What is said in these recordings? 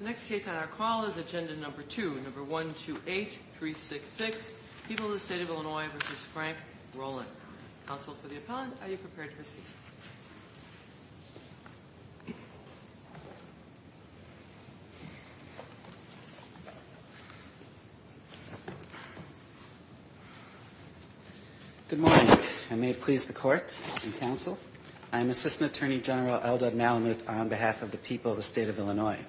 The next case on our call is Agenda No. 2, No. 128366, People of the State of Illinois v. Frank Roland. Counsel for the appellant, are you prepared to proceed? Good morning. I may please the court and counsel. I am Assistant Attorney General Eldad Malamuth on behalf of the People of the State of Illinois.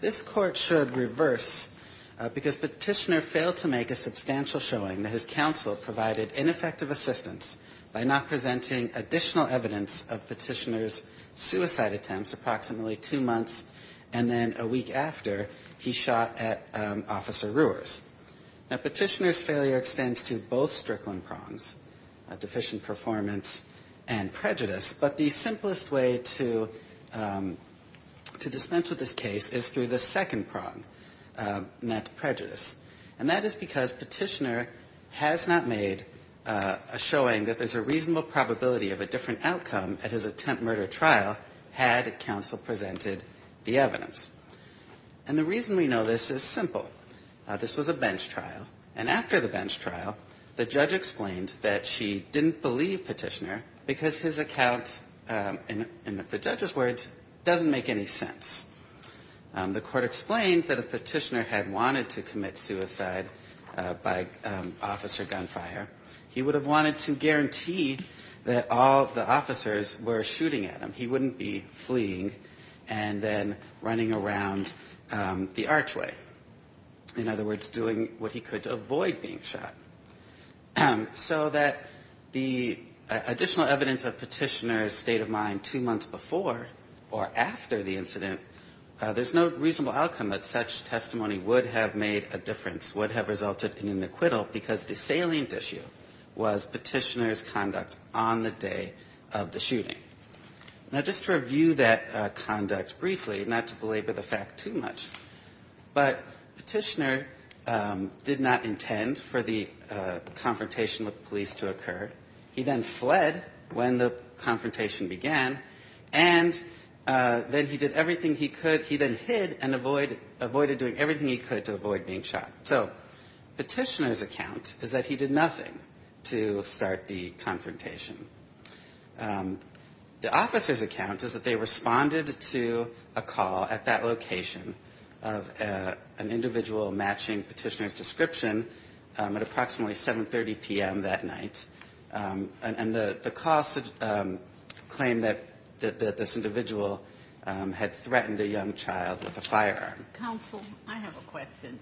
This Court should reverse, because Petitioner failed to make a substantial showing that his counsel provided ineffective assistance by not presenting additional evidence of Petitioner's suicide attempts approximately two months, and then a week after, he shot at Officer Rewers. Now, Petitioner's failure extends to both Strickland prongs, deficient performance and prejudice, but the simplest way to dispense with this case is through the second prong, net prejudice. And that is because Petitioner has not made a showing that there's a reasonable probability of a different outcome at his attempt murder trial had counsel presented the evidence. And the reason we know this is simple. This was a bench trial. And after the bench trial, the judge explained that she didn't believe Petitioner because his account, in the judge's words, doesn't make any sense. The court explained that if Petitioner had wanted to commit suicide by officer gunfire, he would have wanted to guarantee that all the officers were shooting at him. He wouldn't be fleeing and then running around the archway. In other words, doing what he could to avoid being shot. So that the additional evidence of Petitioner's state of mind two months before or after the incident, there's no reasonable outcome that such testimony would have made a difference, would have resulted in an acquittal, because the salient issue was Petitioner's conduct on the day of the shooting. Now, just to review that conduct briefly, not to belabor the fact too much, but Petitioner did not intend for the confrontation with police to occur. He then fled when the confrontation began, and then he did everything he could. He then hid and avoided doing everything he could to avoid being shot. So Petitioner's account is that he did nothing to start the confrontation. The officer's account is that they responded to a call at that time, at approximately 7.30 p.m. that night, and the call claimed that this individual had threatened a young child with a firearm. Counsel, I have a question.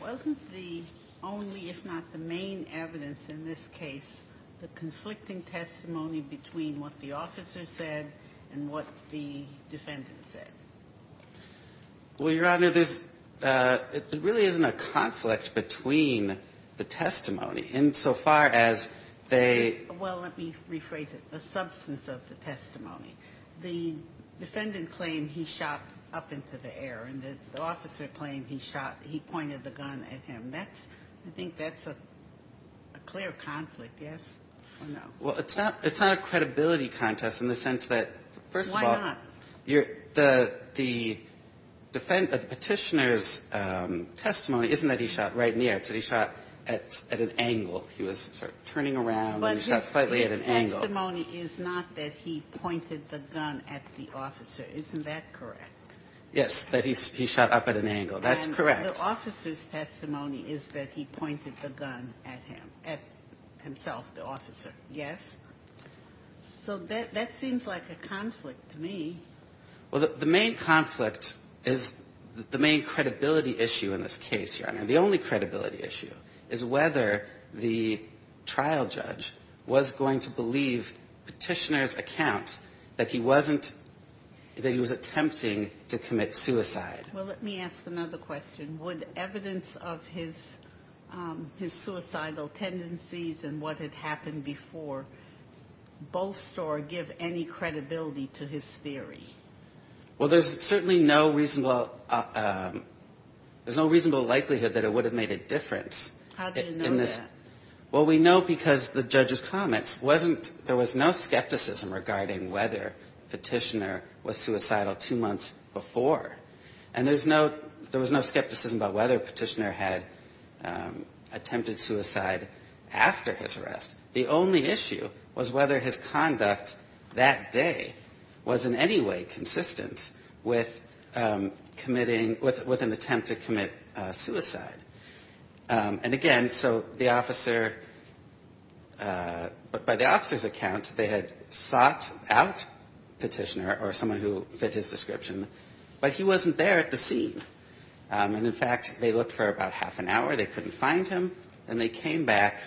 Wasn't the only, if not the main evidence in this case, the conflicting testimony between what the officer said and what the defendant said? Well, Your Honor, there's, it really isn't a conflict between the testimony, insofar as they... Well, let me rephrase it. The substance of the testimony. The defendant claimed he shot up into the air, and the officer claimed he shot, he pointed the gun at him. That's, I think that's a clear conflict, yes or no? Well, it's not, it's not a credibility contest in the sense that, first of all... Why not? The defendant, Petitioner's testimony isn't that he shot right in the air. It's that he shot at an angle. He was sort of turning around, and he shot slightly at an angle. But his testimony is not that he pointed the gun at the officer. Isn't that correct? Yes, that he shot up at an angle. That's correct. And the officer's testimony is that he pointed the gun at him, at himself, the officer. Yes. So that seems like a conflict to me. Well, the main conflict is the main credibility issue in this case, Your Honor. The only credibility issue is whether the trial judge was going to believe Petitioner's account that he wasn't, that he was attempting to commit suicide. Well, let me ask another question. Would evidence of his, his suicidal tendencies and what had happened before bolster or give any credibility to his theory? Well, there's certainly no reasonable, there's no reasonable likelihood that it would have made a difference. How do you know that? Well, we know because the judge's comments wasn't, there was no skepticism regarding whether Petitioner was suicidal two months before. And there's no, there was no skepticism about whether Petitioner had attempted suicide after his arrest. The only issue was whether his conduct that day was in any way consistent with committing, with an attempt to commit suicide. And again, so the officer, by the officer's account, they had sought out Petitioner or someone who fit his description, but he wasn't there at the time. In fact, they looked for about half an hour, they couldn't find him, and they came back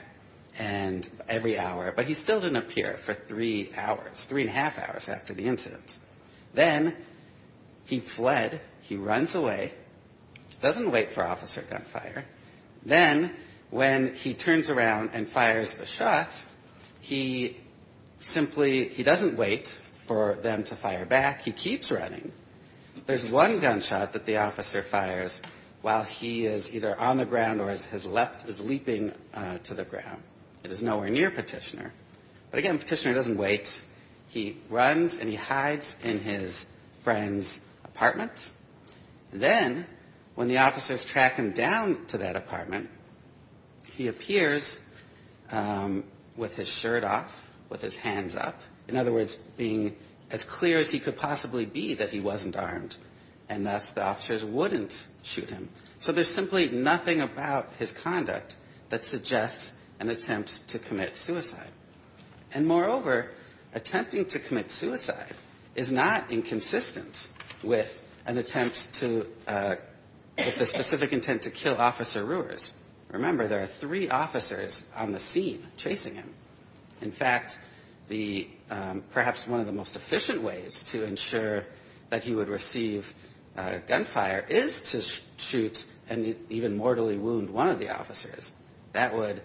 and every hour, but he still didn't appear for three hours, three and a half hours after the incident. Then he fled, he runs away, doesn't wait for officer gunfire. Then when he turns around and fires the shot, he simply, he doesn't wait for them to fire back, he keeps running. There's one gunshot that the officer fires while he is either on the ground or has left, is leaping to the ground. It is nowhere near Petitioner. But again, Petitioner doesn't wait. He runs and he hides in his friend's apartment. Then when the officers track him down to that apartment, he appears with his shirt off, with his hands up. In other words, being as clear as he could possibly be that he wasn't armed, and thus the officers wouldn't shoot him. So there's simply nothing about his conduct that suggests an attempt to commit suicide. And moreover, attempting to commit suicide is not inconsistent with an attempt to, with the specific intent to kill Officer Rewers. Remember, there are three officers on the scene chasing him. In fact, the, perhaps one of the most efficient ways to ensure that he would receive gunfire is to shoot and even mortally wound one of the officers. That would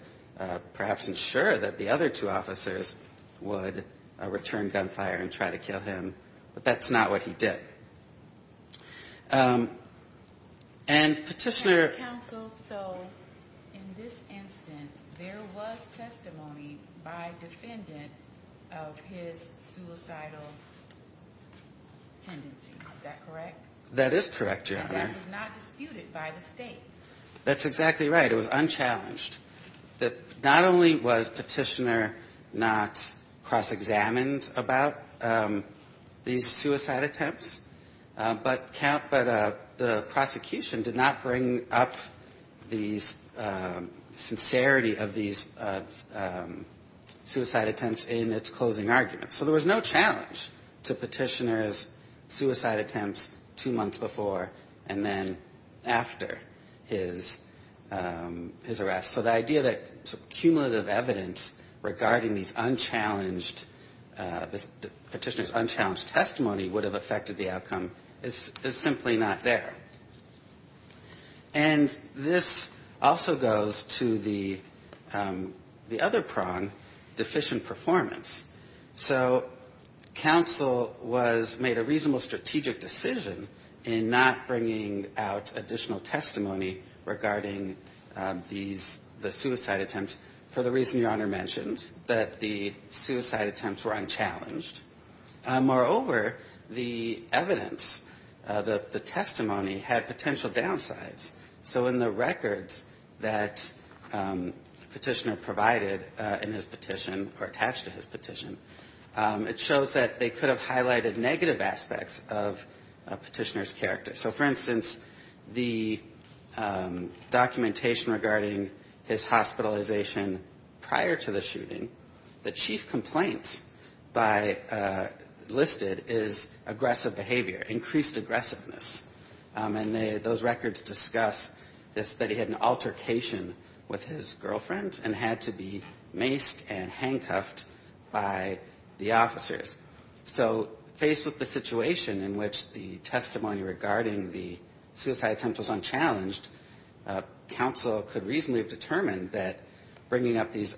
perhaps ensure that the other two officers would return gunfire and try to kill him. But that's not what he did. And Petitioner. And counsel, so in this instance, there was testimony by defendants that the officer was not aware of his suicidal tendencies. Is that correct? That is correct, Your Honor. And that was not disputed by the State. That's exactly right. It was unchallenged. That not only was Petitioner not cross-examined about these suicide attempts, but the prosecution did not bring up the sincerity of these suicide attempts in its closing argument. So there was no challenge to Petitioner's suicide attempts two months before and then after his arrest. So the idea that cumulative evidence regarding these unchallenged, Petitioner's unchallenged testimony would have affected the outcome is simply not there. And this also goes to the other prong, deficient performance. So counsel was made a reasonable strategic decision in not bringing out additional testimony regarding these, the suicide attempts, for the reason Your Honor mentioned, that the suicide attempts were unchallenged. Moreover, the evidence, the testimony had potential downsides. So in the records that Petitioner provided in his petition or attached to his petition, it shows that they could have highlighted negative aspects of Petitioner's character. So for instance, the documentation regarding his hospitalization prior to the arrest listed is aggressive behavior, increased aggressiveness. And those records discuss that he had an altercation with his girlfriend and had to be maced and handcuffed by the officers. So faced with the situation in which the testimony regarding the suicide attempts was unchallenged, counsel could reasonably have determined that bringing up these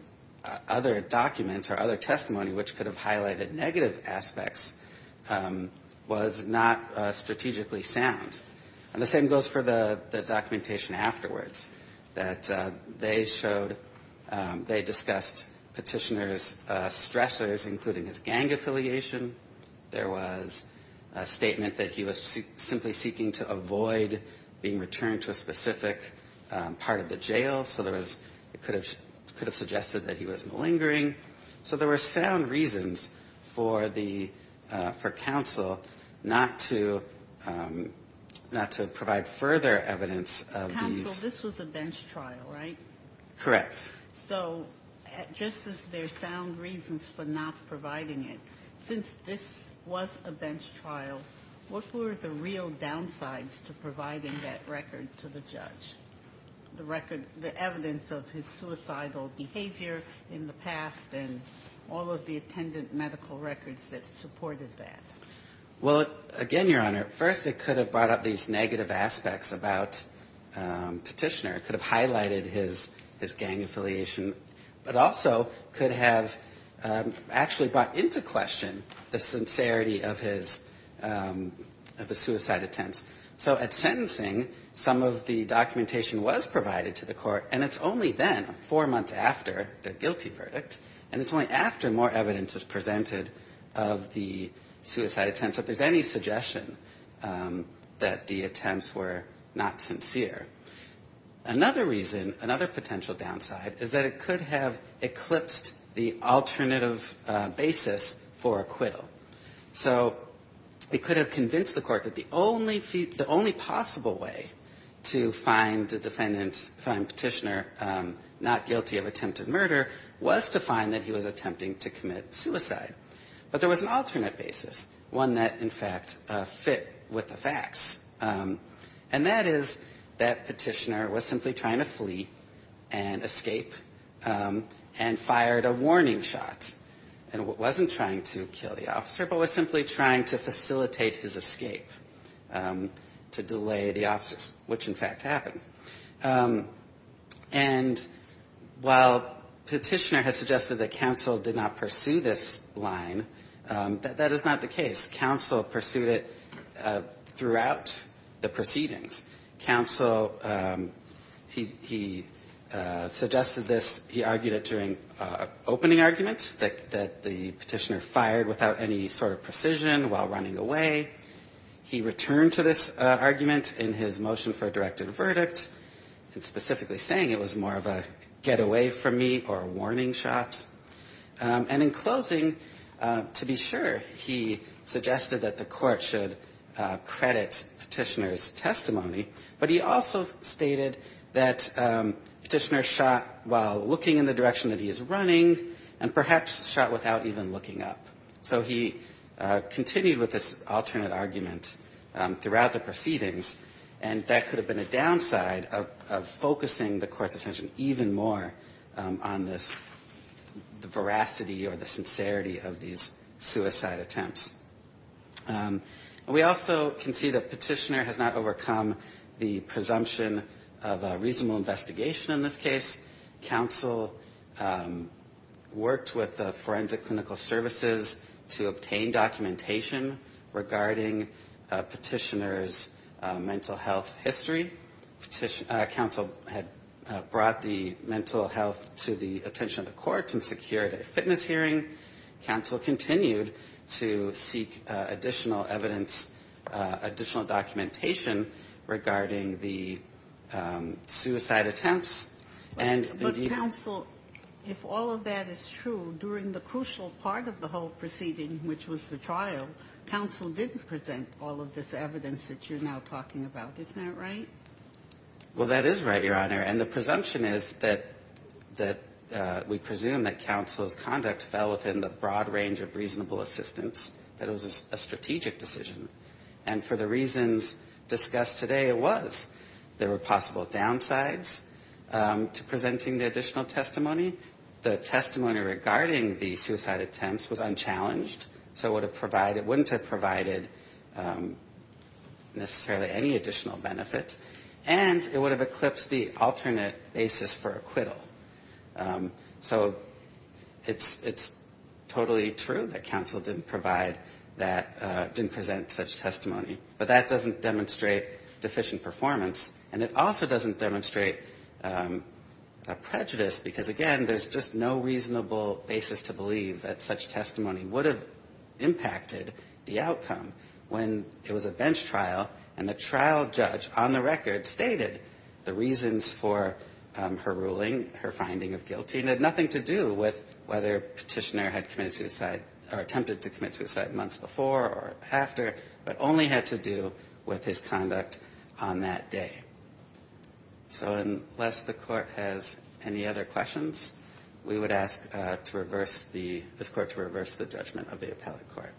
other documents or other testimony which could have highlighted negative aspects was not strategically sound. And the same goes for the documentation afterwards, that they showed, they discussed Petitioner's stressors, including his gang affiliation. There was a statement that he was simply seeking to avoid being returned to a specific part of the jail. So there was, it could have suggested that he was malingering. So there were sound reasons for the, for counsel not to, not to provide further evidence of these. Counsel, this was a bench trial, right? Correct. So just as there's sound reasons for not providing it, since this was a bench trial, what were the real downsides to providing that record to the judge? The record, the evidence of his suicidal behavior in the past and all of the other things that were provided to the court, and also the attendant medical records that supported that? Well, again, Your Honor, first it could have brought up these negative aspects about Petitioner. It could have highlighted his, his gang affiliation, but also could have actually brought into question the sincerity of his, of his suicide attempts. So at sentencing, some of the documentation was provided to the court, and it's only then, four months after the guilty verdict, and it's only after more evidence is presented of the suicide attempt that there's any suggestion that the attempts were not sincere. Another reason, another potential downside, is that it could have eclipsed the alternative basis for acquittal. So it could have convinced the court that the only, the only possible way to find a defendant, find Petitioner not guilty of attempted murder was to find that he was attempting to commit suicide. But there was an alternate basis, one that, in fact, fit with the facts, and that is that Petitioner was simply trying to flee and escape and fired a warning shot, and wasn't trying to kill the officer, but was simply trying to facilitate his escape to delay the officer's, which, in fact, happened. And while Petitioner has suggested that counsel did not pursue this line, that is not the case. Counsel pursued it throughout the proceedings. Counsel, he, he suggested this, he argued it during an opening argument, that the Petitioner fired without any sort of precision while running away. He returned to this argument in his motion for a directed verdict, specifically saying it was more of a get away from me or a warning shot. And in closing, to be sure, he suggested that the court should credit Petitioner's testimony, but he also stated that Petitioner shot while looking in the direction that he is running, and perhaps shot without even looking up. So he continued with this alternate argument throughout the proceedings, and that could have been a downside of focusing the court's attention even more on this, the veracity or the sincerity of these suicide attempts. We also can see that Petitioner has not overcome the presumption of a reasonable investigation in this case. Counsel worked with Forensic Clinical Services to obtain documentation regarding Petitioner's mental health history. Counsel had brought the mental health to the attention of the court and secured a fitness hearing. Counsel continued to seek additional evidence, additional documentation regarding the suicide attempts, and indeed the death of Petitioner. Ginsburg. But, Counsel, if all of that is true, during the crucial part of the whole proceeding, which was the trial, Counsel didn't present all of this evidence that you're now talking about. Isn't that right? Well, that is right, Your Honor. And the presumption is that we presume that Counsel's conduct fell within the broad range of reasonable assistance, that it was a strategic decision. And for the reasons discussed today, it was. There were possible downsides to presenting the additional testimony. The testimony regarding the suicide attempts was unchallenged, so it wouldn't have provided necessarily any additional benefit. And it would have eclipsed the alternate basis for acquittal. So it's totally true that Counsel didn't provide that, didn't present such testimony. But that doesn't demonstrate deficient performance. And it also doesn't demonstrate prejudice, because again, there's just no reasonable basis to believe that such testimony would have impacted the outcome when it was a bench trial and the trial judge, on the record, stated the reasons for her ruling, her finding of guilty, and had nothing to do with whether Petitioner had committed suicide or attempted to commit suicide months before or after, but only had to do with his conduct on that day. So unless the Court has any other questions, we would ask this Court to reverse the judgment of the appellate court.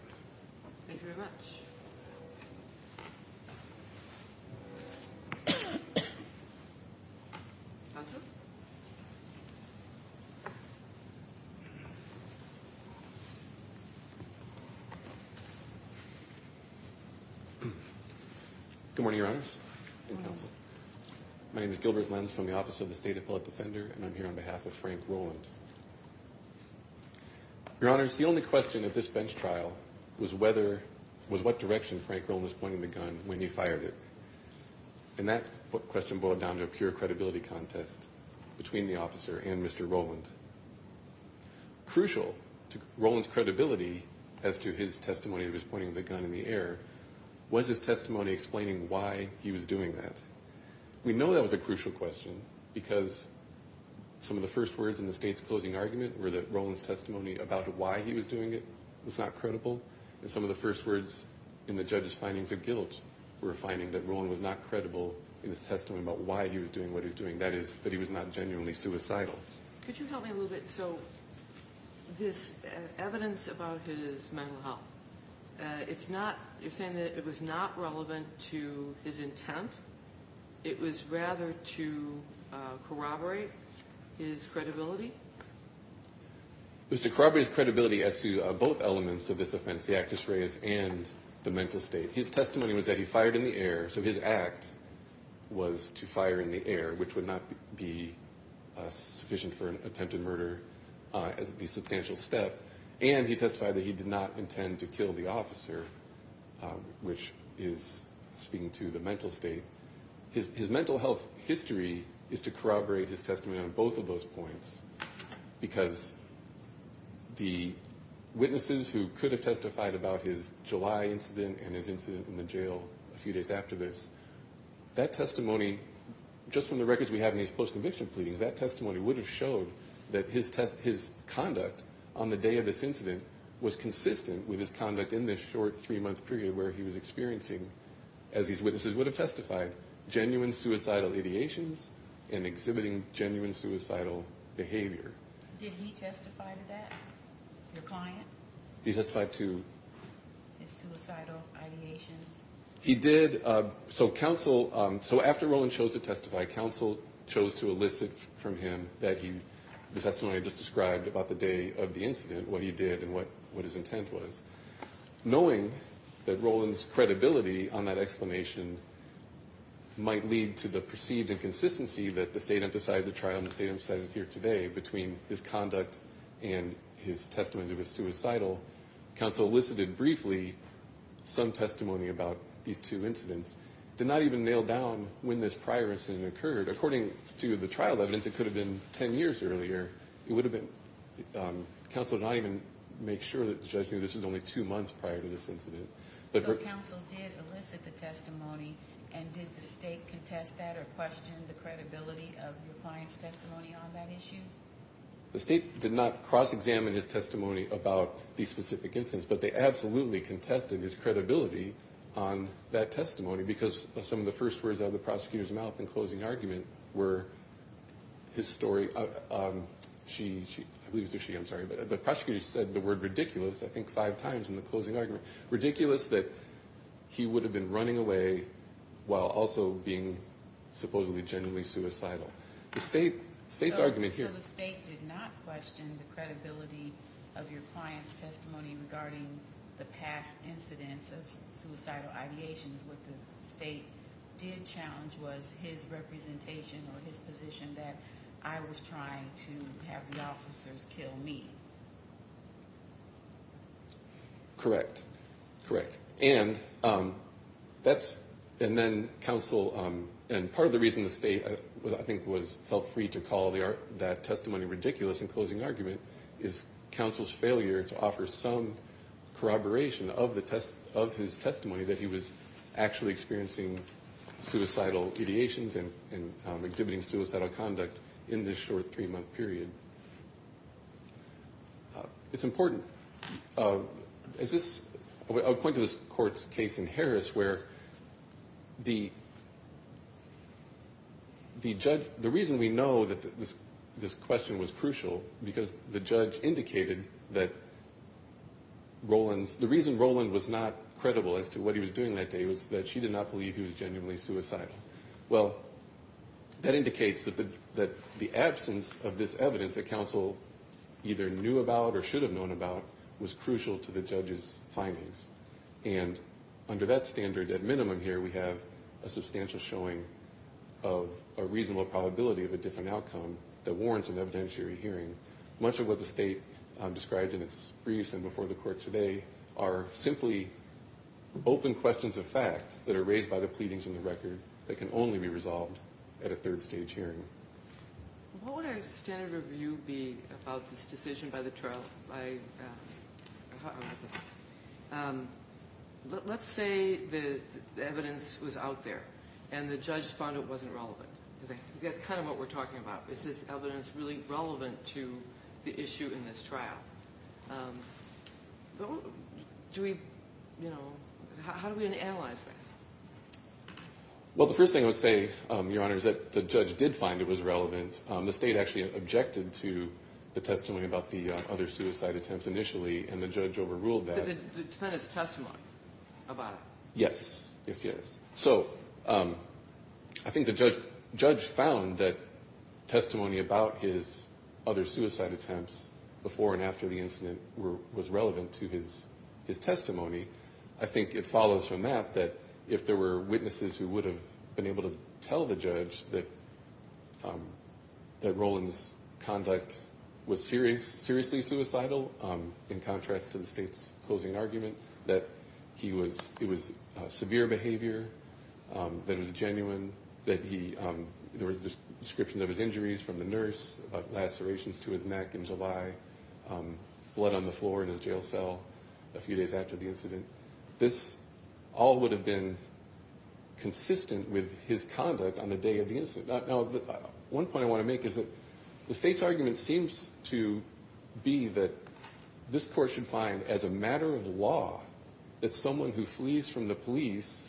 Thank you very much. Answer? Good morning, Your Honors and Counsel. My name is Gilbert Lenz from the Office of the State Appellate Defender, and I'm here on behalf of Frank Rowland. Your Honors, the only question at this bench trial was what direction Frank Rowland was pointing the gun in the air. And I'm here to ask a question about the credibility contest between the officer and Mr. Rowland. Crucial to Rowland's credibility as to his testimony of his pointing the gun in the air, was his testimony explaining why he was doing that? We know that was a crucial question, because some of the first words in the State's closing argument were that Rowland's testimony about why he was doing it was not credible, and some of the first words in the judge's findings of guilt were a little bit different, and some of the first words were that Rowland was not credible in his testimony about why he was doing what he was doing. That is, that he was not genuinely suicidal. Could you help me a little bit? So this evidence about his mental health, it's not, you're saying that it was not relevant to his intent? It was rather to corroborate his credibility? It was to corroborate his credibility as to both elements of this offense, the act of strays and the mental state. His testimony was that his act was to fire in the air, which would not be sufficient for an attempted murder as it would be a substantial step, and he testified that he did not intend to kill the officer, which is speaking to the mental state. His mental health history is to corroborate his testimony on both of those points, because the witnesses who could have testified about his July incident and his incident in the jail a few days after this, that testimony, just from the records we have in his post-conviction pleadings, that testimony would have showed that his conduct on the day of this incident was consistent with his conduct in this short three-month period where he was experiencing, as his witnesses would have testified, genuine suicidal ideations and exhibiting genuine suicidal behavior. Did he testify to that, your client? He testified to... His suicidal ideations. He did. So counsel, so after Rowland chose to testify, counsel chose to elicit from him the testimony I just described about the day of the incident, what he did and what his intent was, knowing that Rowland's credibility on that explanation might lead to the perceived inconsistency that the state emphasized at the trial and the state emphasizes here today between his conduct and his suicidal, counsel elicited briefly some testimony about these two incidents. Did not even nail down when this prior incident occurred. According to the trial evidence, it could have been ten years earlier. It would have been... Counsel did not even make sure that the judge knew this was only two months prior to this incident. So counsel did elicit the testimony, and did the state contest that or question the credibility of your testimony? He did not examine his testimony about the specific incidents, but they absolutely contested his credibility on that testimony because some of the first words out of the prosecutor's mouth in closing argument were his story... She, I believe it was her. I'm sorry. But the prosecutor said the word ridiculous, I think, five times in the closing argument. Ridiculous that he would have been running away while also being supposedly genuinely suicidal. The state's argument here... The credibility of your client's testimony regarding the past incidents of suicidal ideations, what the state did challenge was his representation or his position that I was trying to have the officers kill me. Correct. Correct. And that's... And then counsel... And part of the reason the state, I think, felt free to call that testimony ridiculous in this case was his counsel's failure to offer some corroboration of his testimony that he was actually experiencing suicidal ideations and exhibiting suicidal conduct in this short three-month period. It's important. I'll point to this court's case in Harris where the judge... The reason we know that this question was crucial because the judge indicated that Roland's... The reason Roland was not credible as to what he was doing that day was that she did not believe he was genuinely suicidal. Well, that indicates that the absence of this evidence that counsel either knew about or should have known about was crucial to the judge's findings. And under that standard, at minimum here, we have a substantial showing of a reasonable probability of a different outcome that warrants an additional hearing. And the evidence that the state described in its briefs and before the court today are simply open questions of fact that are raised by the pleadings in the record that can only be resolved at a third-stage hearing. What would our standard of view be about this decision by the trial? Let's say the evidence was out there and the judge found it wasn't relevant. That's kind of what we're talking about. Is this evidence really relevant to the issue in this trial? How do we analyze that? Well, the first thing I would say, Your Honor, is that the judge did find it was relevant. The state actually objected to the testimony about the other suicide attempts initially, and the judge overruled that. The defendant's testimony about it? Yes. Yes, yes. So I think the judge found that testimony about his other suicide attempts before and after the incident was relevant to his testimony. I think it follows from that that if there were witnesses who would have been able to tell the judge that Roland's conduct was seriously suicidal, in contrast to the state's argument that it was severe behavior, that it was genuine, that there was a description of his injuries from the nurse, lacerations to his neck, gingival, blood on the floor in his jail cell a few days after the incident, this all would have been consistent with his conduct on the day of the incident. One point I want to make is that the state's argument seems to be that this court should find, as a matter of fact, that Roland's behavior was consistent with his behavior two months earlier, in a few days after the incident. I think it's a matter of law that someone who flees from the police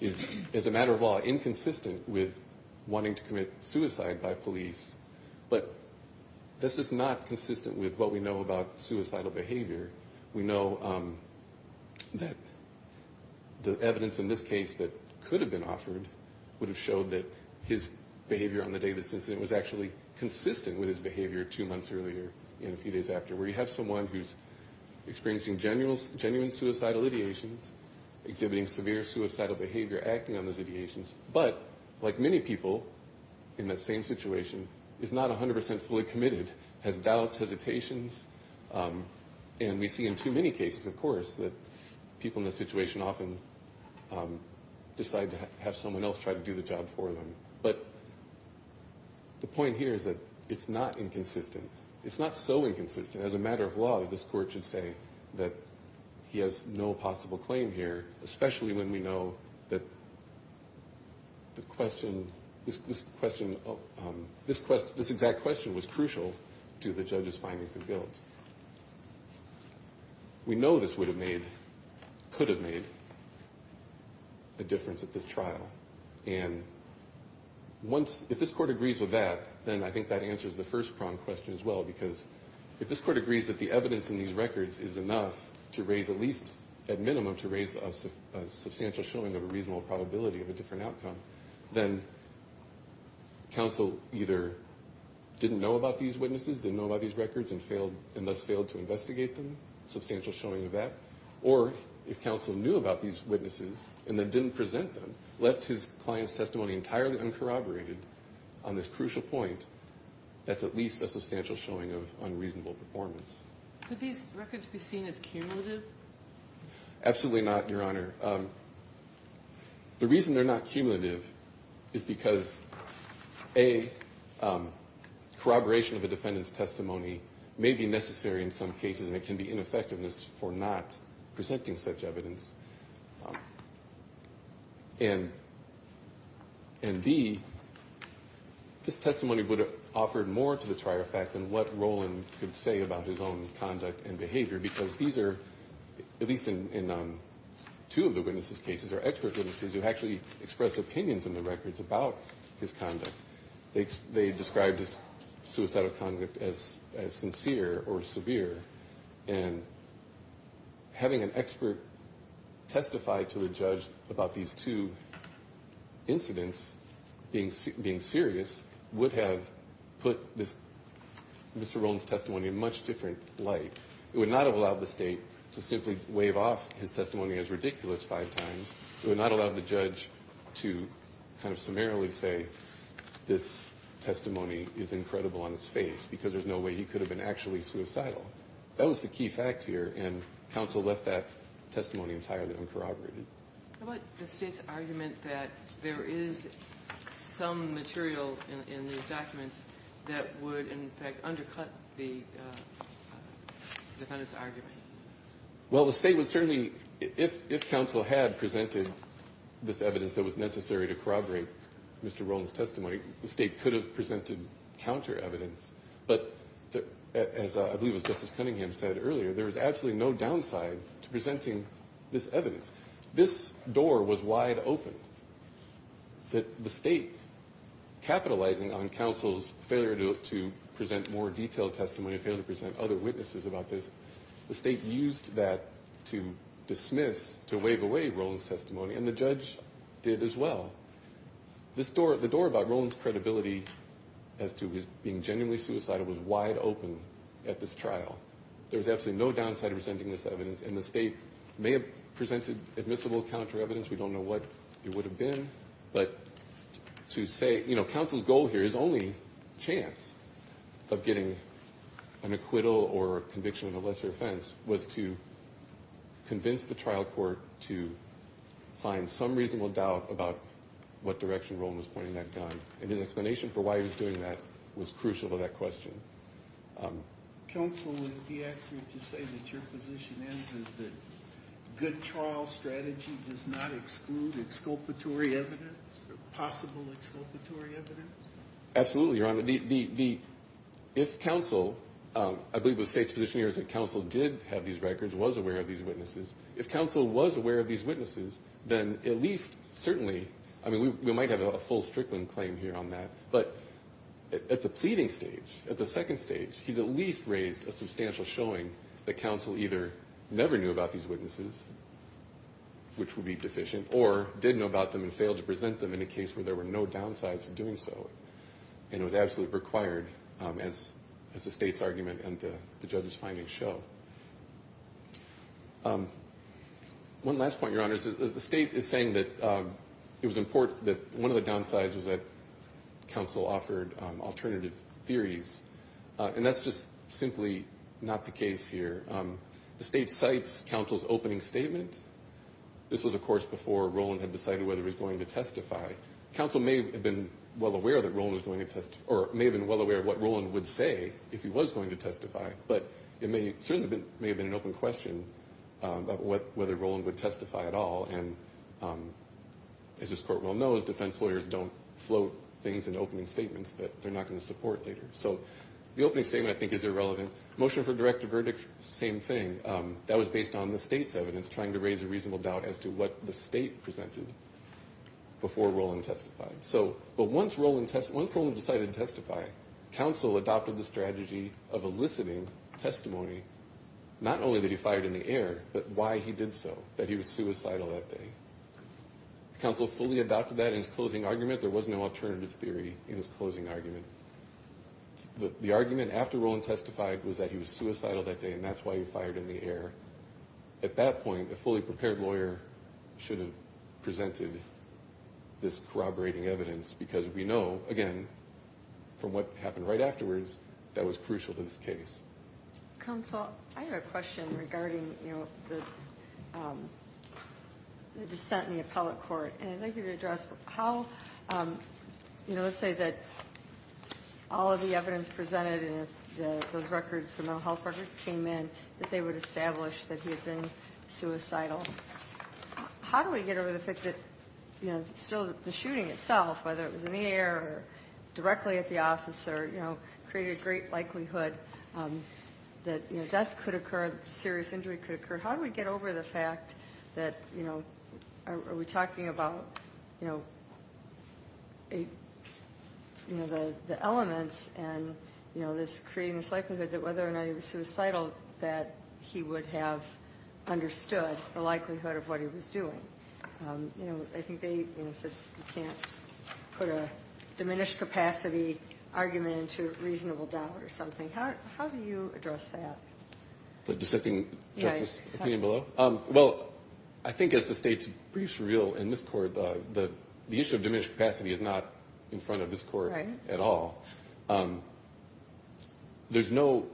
is, as a matter of law, inconsistent with wanting to commit suicide by police. But this is not consistent with what we know about suicidal behavior. We know that the evidence in this case that could have been offered would have showed that his behavior on the day of the incident was actually consistent with his behavior two months earlier and a few days after, where you have someone who's experiencing genuine suicidal ideations, exhibiting severe suicidal behavior, acting on those ideations, but, like many people in that same situation, is not 100% fully committed, has doubts, hesitations, and we see in too many cases, of course, that people in that situation often decide to have someone else try to do the job for them. But the point here is that it's not inconsistent. It's not so inconsistent, as a matter of law, that this court should say that he has no possible claim here, especially when we know that this exact question was crucial to the judge's findings and guilt. We know this could have made a difference at this trial, and if this court agrees with that, then I think that answers the first pronged question as well, because if this court agrees that the evidence in these records is enough to raise, at least at minimum, to raise a substantial showing of a reasonable probability of a different outcome, then counsel either didn't know about these witnesses, didn't know about these records, and thus failed to present them, left his client's testimony entirely uncorroborated on this crucial point that's at least a substantial showing of unreasonable performance. Absolutely not, Your Honor. The reason they're not cumulative is because, A, corroboration of a defendant's testimony may be necessary in some cases, and it can be effective in other cases, and B, this testimony would have offered more to the trier fact than what Rowland could say about his own conduct and behavior, because these are, at least in two of the witnesses' cases, or expert witnesses who actually expressed opinions in the records about his conduct, they described his suicidal conduct as sincere or severe, and B, this testimony would have offered more to the trier fact than what Rowland could say about his own conduct, and C, having an expert testify to a judge about these two incidents being serious would have put Mr. Rowland's testimony in a much different light. It would not have allowed the State to simply wave off his testimony as ridiculous five times. It would not have allowed the judge to kind of summarily say this testimony is incredible on its face, because there's no way he could have been actually suicidal. That was the key fact here, and counsel left that testimony entirely uncorroborated. Ginsburg. How about the State's argument that there is some material in these documents that would, in fact, undercut the defendant's argument? Well, the State would certainly, if counsel had presented this evidence that was necessary to corroborate Mr. Rowland's testimony, the State could have presented counter-evidence, but as I believe as Justice Cunningham said earlier, there is absolutely no downside to presenting this evidence. This door was wide open that the State, capitalizing on counsel's failure to present more detailed testimony, failure to present other witnesses about this, the State used that to dismiss, to wave away Rowland's testimony, and the judge did as well. This door, the door about Rowland's credibility as to being genuinely suicidal was wide open at this trial. There was absolutely no downside to presenting this evidence, and the State may have presented admissible counter-evidence. We don't know what it would have been, but to say, you know, counsel's goal here is only chance of getting an acquittal or conviction of a lesser offense, was to convince the trial court to find some reasonable doubt about Mr. Rowland's testimony. What direction Rowland was pointing that gun, and his explanation for why he was doing that was crucial to that question. Counsel would be accurate to say that your position is that good trial strategy does not exclude exculpatory evidence, possible exculpatory evidence? Absolutely, Your Honor. If counsel, I believe the State's position here is that counsel did have these records, was aware of these witnesses, if counsel was aware of these witnesses, then at least certainly, I mean, we might have a full Strickland claim here on that, but at the pleading stage, at the second stage, he's at least raised a substantial showing that counsel either never knew about these witnesses, which would be deficient, or did know about them and failed to present them in a case where there were no downsides to doing so. And it was absolutely required as the State's argument and the judge's findings show. One last point, Your Honor, the State is saying that it was important that one of the downsides was that counsel offered alternative theories. And that's just simply not the case here. The State cites counsel's opening statement. This was, of course, before Rowland had decided whether he was going to testify. Counsel may have been well aware that Rowland was going to testify, or may have been well aware of what Rowland would say if he was going to testify, but it certainly may have been an open question about whether Rowland would testify at all. And as this Court well knows, defense lawyers don't float things in opening statements that they're not going to support later. So the opening statement, I think, is irrelevant. Motion for direct verdict, same thing. That was based on the State's evidence, trying to raise a reasonable doubt as to what the State presented before Rowland testified. But once Rowland decided to testify, counsel adopted the strategy of eliciting testimony, not only that he fired in the air, but why he did so, that he was suicidal that day. Counsel fully adopted that in his closing argument. There was no alternative theory in his closing argument. The argument after Rowland testified was that he was suicidal that day, and that's why he fired in the air. At that point, a fully prepared lawyer should have presented this corroborating evidence, because we know, again, from what happened right afterwards, that was crucial to this case. Counsel, I have a question regarding the dissent in the appellate court. And I'd like you to address how, you know, let's say that all of the evidence presented in those records, the mental health records came in, that they would establish that he had been suicidal. How do we get over the fact that, you know, still the shooting itself, whether it was in the air or directly at the officer, you know, created a great likelihood that, you know, death could occur, serious injury could occur. How do we get over the fact that, you know, are we talking about, you know, you know, the elements and, you know, this creating this likelihood that whether or not he was suicidal, that he would have understood the likelihood of what he was doing? You know, I think they, you know, said you can't put a diminished capacity argument into reasonable doubt or something. How do you address that? The dissenting justice opinion below? Well, I think as the state's briefs reveal in this court, the issue of diminished capacity is not in front of this court at all. There's no,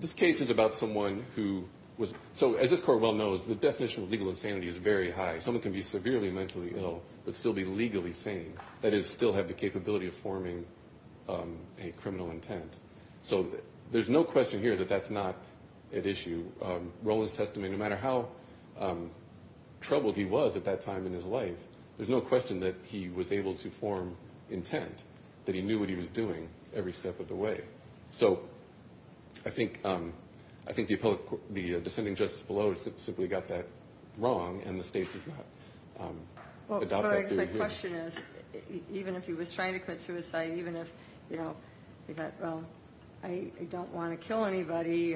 this case is about someone who was, so as this court well knows, the definition of legal insanity is very high. Someone can be severely mentally ill but still be legally sane, that is, still have the capability of forming a criminal intent. So there's no question here that that's not at issue. Rowland's testimony, no matter how troubled he was at that time in his life, there's no question that he was able to form intent, that he knew what he was doing every step of the way. So I think the dissenting justice below simply got that wrong and the state does not adopt that theory here. Well, Greg, my question is, even if he was trying to commit suicide, even if, you know, I don't want to kill anybody,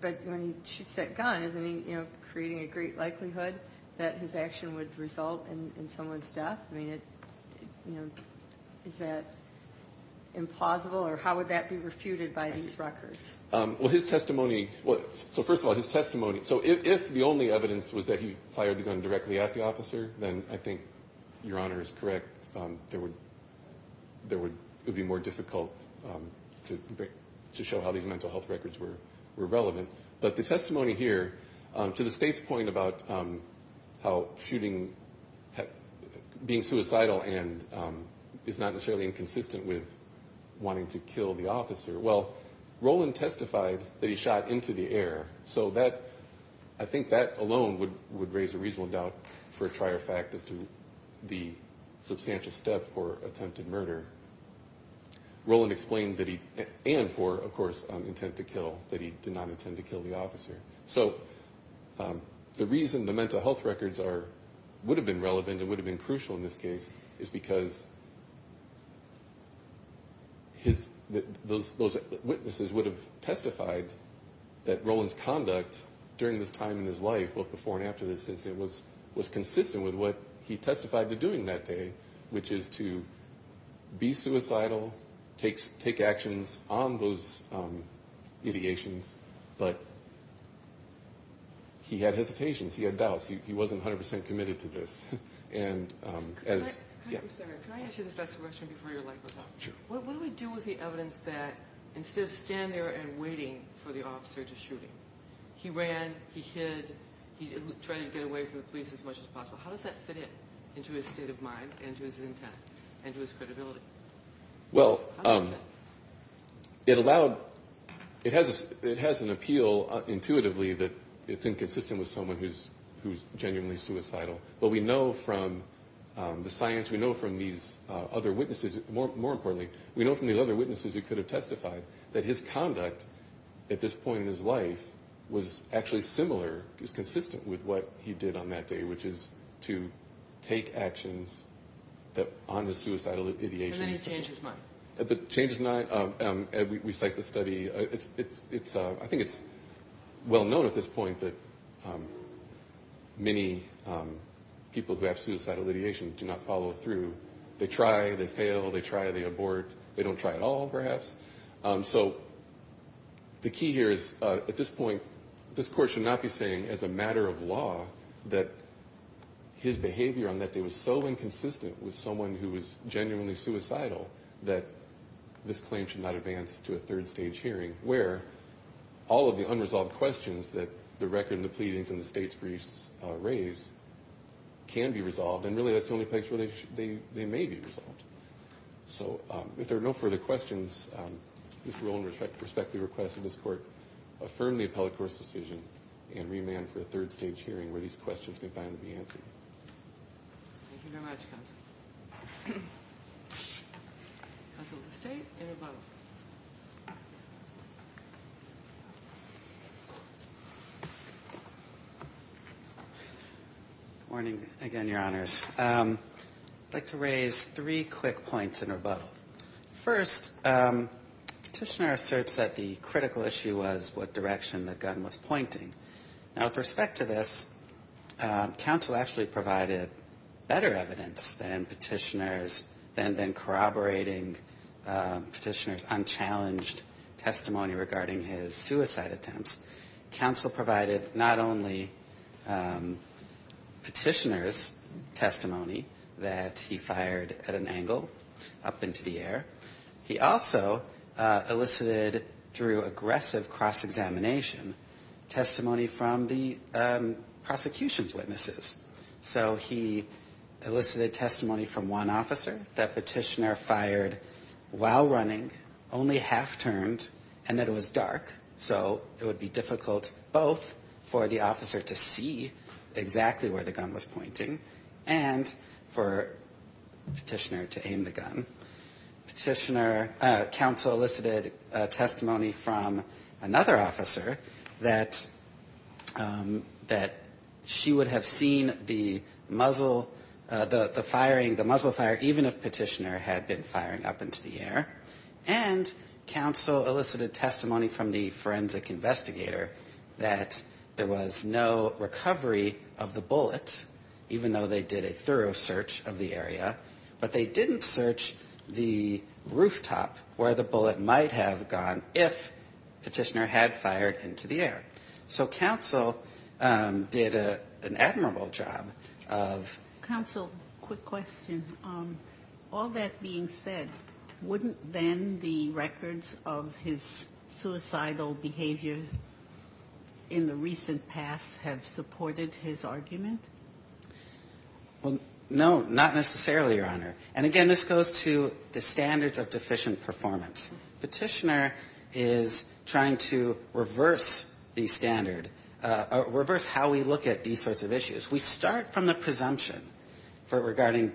but when he shoots that gun, isn't he, you know, creating a great likelihood that his action would result in someone's death? I mean, you know, is that implausible or how would that be refuted by these records? Well, his testimony, so first of all, his testimony, so if the only evidence was that he fired the gun directly at the officer, then I think Your Honor is correct. There would be more difficult to show how these mental health records were relevant. But the testimony here, to the state's point about how shooting, being suicidal and is not necessarily inconsistent with wanting to kill the officer, well, Rowland testified that he shot into the air. So that, I think that alone would raise a reasonable doubt for a trier fact as to the substantial step for attempted murder. Rowland explained that he, and for, of course, intent to kill, that he did not intend to kill the officer. So the reason the mental health records would have been relevant and would have been crucial in this case is because those witnesses would have testified that Rowland's conduct during this time in his life, both before and after this incident, was consistent with what he testified to doing that day, which is to be suicidal, take actions on those ideations, but he had hesitations, he had doubts, he wasn't 100% committed to this. And as, yeah. Can I ask you this last question before you're like, what do we do with the evidence that instead of standing there and waiting for the officer to shoot him, he ran, he hid, he tried to get away from the police as much as possible, how does that fit in to his state of mind and to his intent and to his credibility? Well, it allowed, it has an appeal intuitively that it's inconsistent with someone who's genuinely suicidal. But we know from the science, we know from these other witnesses, more importantly, we know from the other witnesses who could have testified that his conduct at this point in his life was actually similar, is consistent with what he did on that day, which is to take actions on the suicidal ideation. And then he changed his mind. Changed his mind, we cite the study, I think it's well known at this point that many people who have committed suicide, people who have suicidal ideations do not follow through, they try, they fail, they try, they abort, they don't try at all perhaps. So the key here is at this point, this court should not be saying as a matter of law that his behavior on that day was so inconsistent with someone who was genuinely suicidal that this claim should not advance to a third stage hearing, where all of the unresolved questions that the record and the pleadings and the state's briefs raise, can be resolved, and really that's the only place where they may be resolved. So if there are no further questions, Mr. Rowland, I respectfully request that this court affirm the appellate court's decision, and remand for a third stage hearing where these questions may finally be answered. Thank you very much, counsel. Counsel, the state and rebuttal. Good morning again, your honors. I'd like to raise three quick points in rebuttal. First, the petitioner asserts that the critical issue was what direction the gun was pointing. Now with respect to this, counsel actually provided better evidence than the petitioner, than the corroborating petitioner's unchallenged testimony regarding his suicide attempts. Counsel provided not only petitioner's testimony that he fired at an angle up into the air, he also elicited through aggressive cross-examination testimony from the prosecution's witnesses. So he elicited testimony from one officer that petitioner fired while running, only half-turned, and that it was dark. So it would be difficult both for the officer to see exactly where the gun was pointing, and for petitioner to aim the gun. Counsel elicited testimony from another officer that she would have seen the gun point exactly where the gun was pointing, she would have seen the muzzle, the firing, the muzzle fire, even if petitioner had been firing up into the air. And counsel elicited testimony from the forensic investigator that there was no recovery of the bullet, even though they did a thorough search of the area, but they didn't search the rooftop where the bullet might have gone, if petitioner had fired into the air. So counsel did an admirable job of... Counsel, quick question. All that being said, wouldn't then the records of his suicidal behavior in the recent past have supported his argument? Well, no, not necessarily, Your Honor. And again, this goes to the standards of deficient performance. We don't have to be standard, reverse how we look at these sorts of issues. We start from the presumption regarding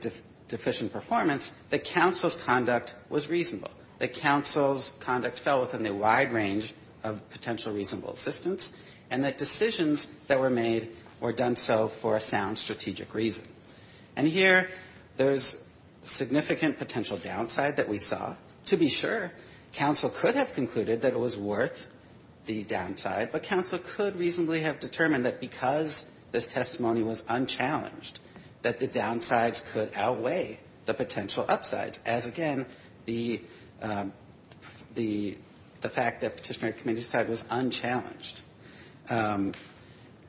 deficient performance that counsel's conduct was reasonable, that counsel's conduct fell within the wide range of potential reasonable assistance, and that decisions that were made were done so for a sound strategic reason. And here, there's significant potential downside that we saw. To be sure, counsel could have concluded that it was worth the downside, but counsel could reasonably have determined that because this testimony was unchallenged, that the downsides could outweigh the potential upsides. As again, the fact that petitioner committed suicide was unchallenged,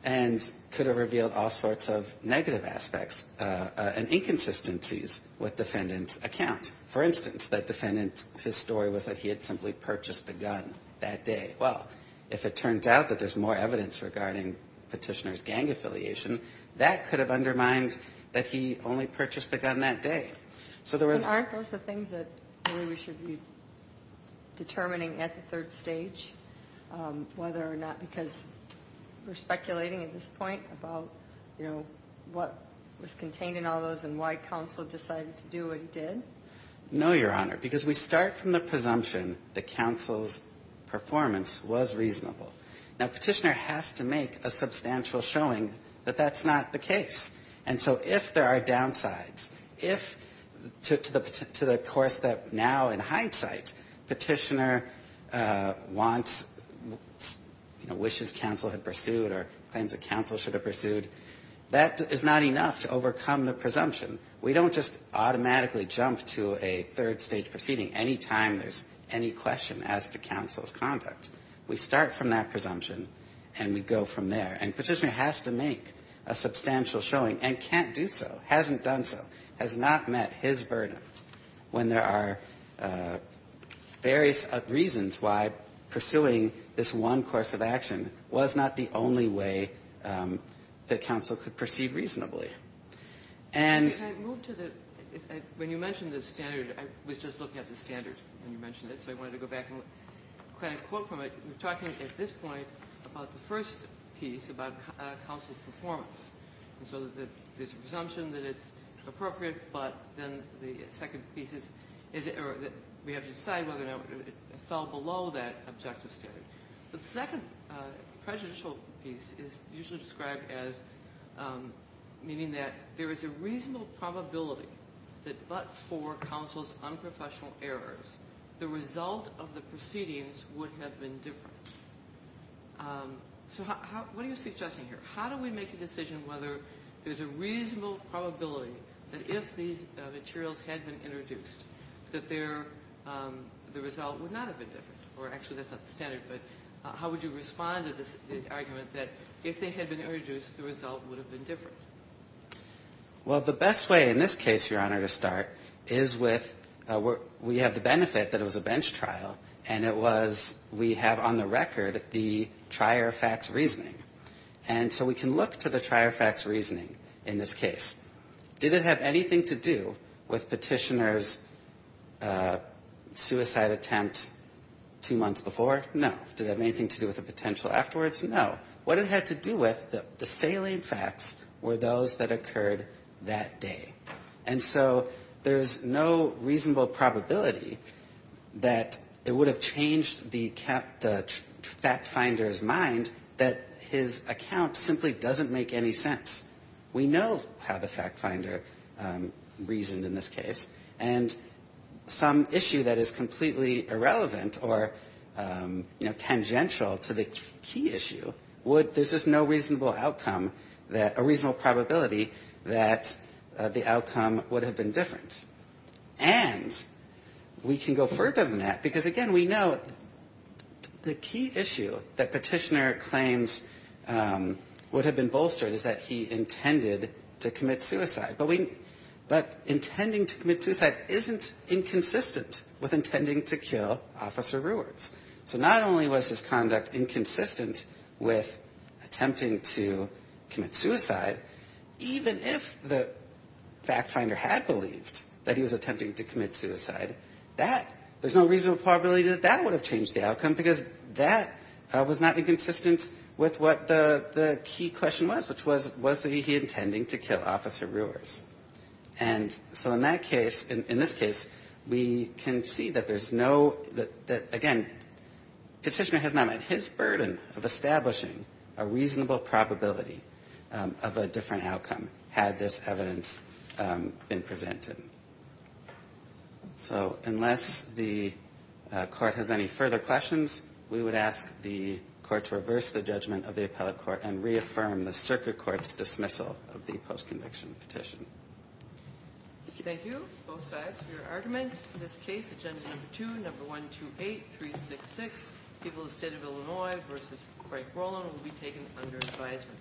and could have revealed all sorts of negative aspects and inconsistencies with defendant's account. For instance, that defendant, his story was that he had simply purchased a gun that day. Well, if it turns out that there's more evidence regarding petitioner's gang affiliation, that could have undermined that he only purchased the gun that day. So there was... Aren't those the things that we should be determining at the third stage, whether or not, because we're speculating at this point about, you know, what was contained in all those and why counsel decided to do what he did? No, Your Honor, because we start from the presumption that counsel's performance was reasonable. Now, petitioner has to make a substantial showing that that's not the case. And so if there are downsides, if to the course that now, in hindsight, petitioner wants, you know, wishes counsel had pursued or claims that counsel should have pursued, that is not enough to overcome the presumption. We don't just automatically jump to a third stage proceeding any time there's any question as to counsel's conduct. We start from that presumption, and we go from there. And petitioner has to make a substantial showing, and can't do so, hasn't done so, has not met his burden when there are various reasons why pursuing this one course of action was not the only way that counsel could perceive reasonably. And... I moved to the, when you mentioned the standard, I was just looking at the standard when you mentioned it, so I wanted to go back and kind of quote from it. We're talking at this point about the first piece about counsel's performance. And so there's a presumption that it's appropriate, but then the second piece is that we have to decide whether or not it fell below that objective standard. The second prejudicial piece is usually described as meaning that there is a reasonable probability that but for counsel's unprofessional errors, the result of the proceedings would have been different. So how, what are you suggesting here? How do we make a decision whether there's a reasonable probability that if these materials had been introduced, that their, the result would not have been different? Or actually, that's not the standard, but how would you respond to this argument that if they had been introduced, the result would have been different? Well, the best way in this case, Your Honor, to start is with, we have the benefit that it was a bench trial, and it was, we have on the record the trier facts reasoning. And so we can look to the trier facts reasoning in this case. Did it have anything to do with Petitioner's suicide attempt to commit suicide? Two months before? No. Did it have anything to do with the potential afterwards? No. What it had to do with, the salient facts were those that occurred that day. And so there's no reasonable probability that it would have changed the fact finder's mind that his account simply doesn't make any sense. We know how the fact finder reasoned in this case, and some issue that is completely irrelevant or doesn't make any sense, we can look to the trier facts reasoning in this case. And we can go further than that, because, again, we know the key issue that Petitioner claims would have been bolstered is that he intended to commit suicide. But intending to commit suicide isn't inconsistent with intending to kill Officer Rewards. So not only was his conduct inconsistent with attempting to commit suicide, even if the fact finder had believed that he was attempting to commit suicide, there's no reasonable probability that that would have changed the outcome, because that was not inconsistent with what the key question was, which was, was he intending to kill Officer Rewards? And so in that case, in this case, we can see that there's no, that, again, Petitioner has not met his burden of establishing a reasonable probability of a different outcome, had this evidence been presented. So unless the court has any further questions, we would ask the court to reverse the judgment of the appellate court and reaffirm the circuit court's dismissal of the post-conviction petition. Thank you, both sides, for your argument. In this case, agenda number two, number 128366, People of the State of Illinois v. Craig Roland will be taken under advisement.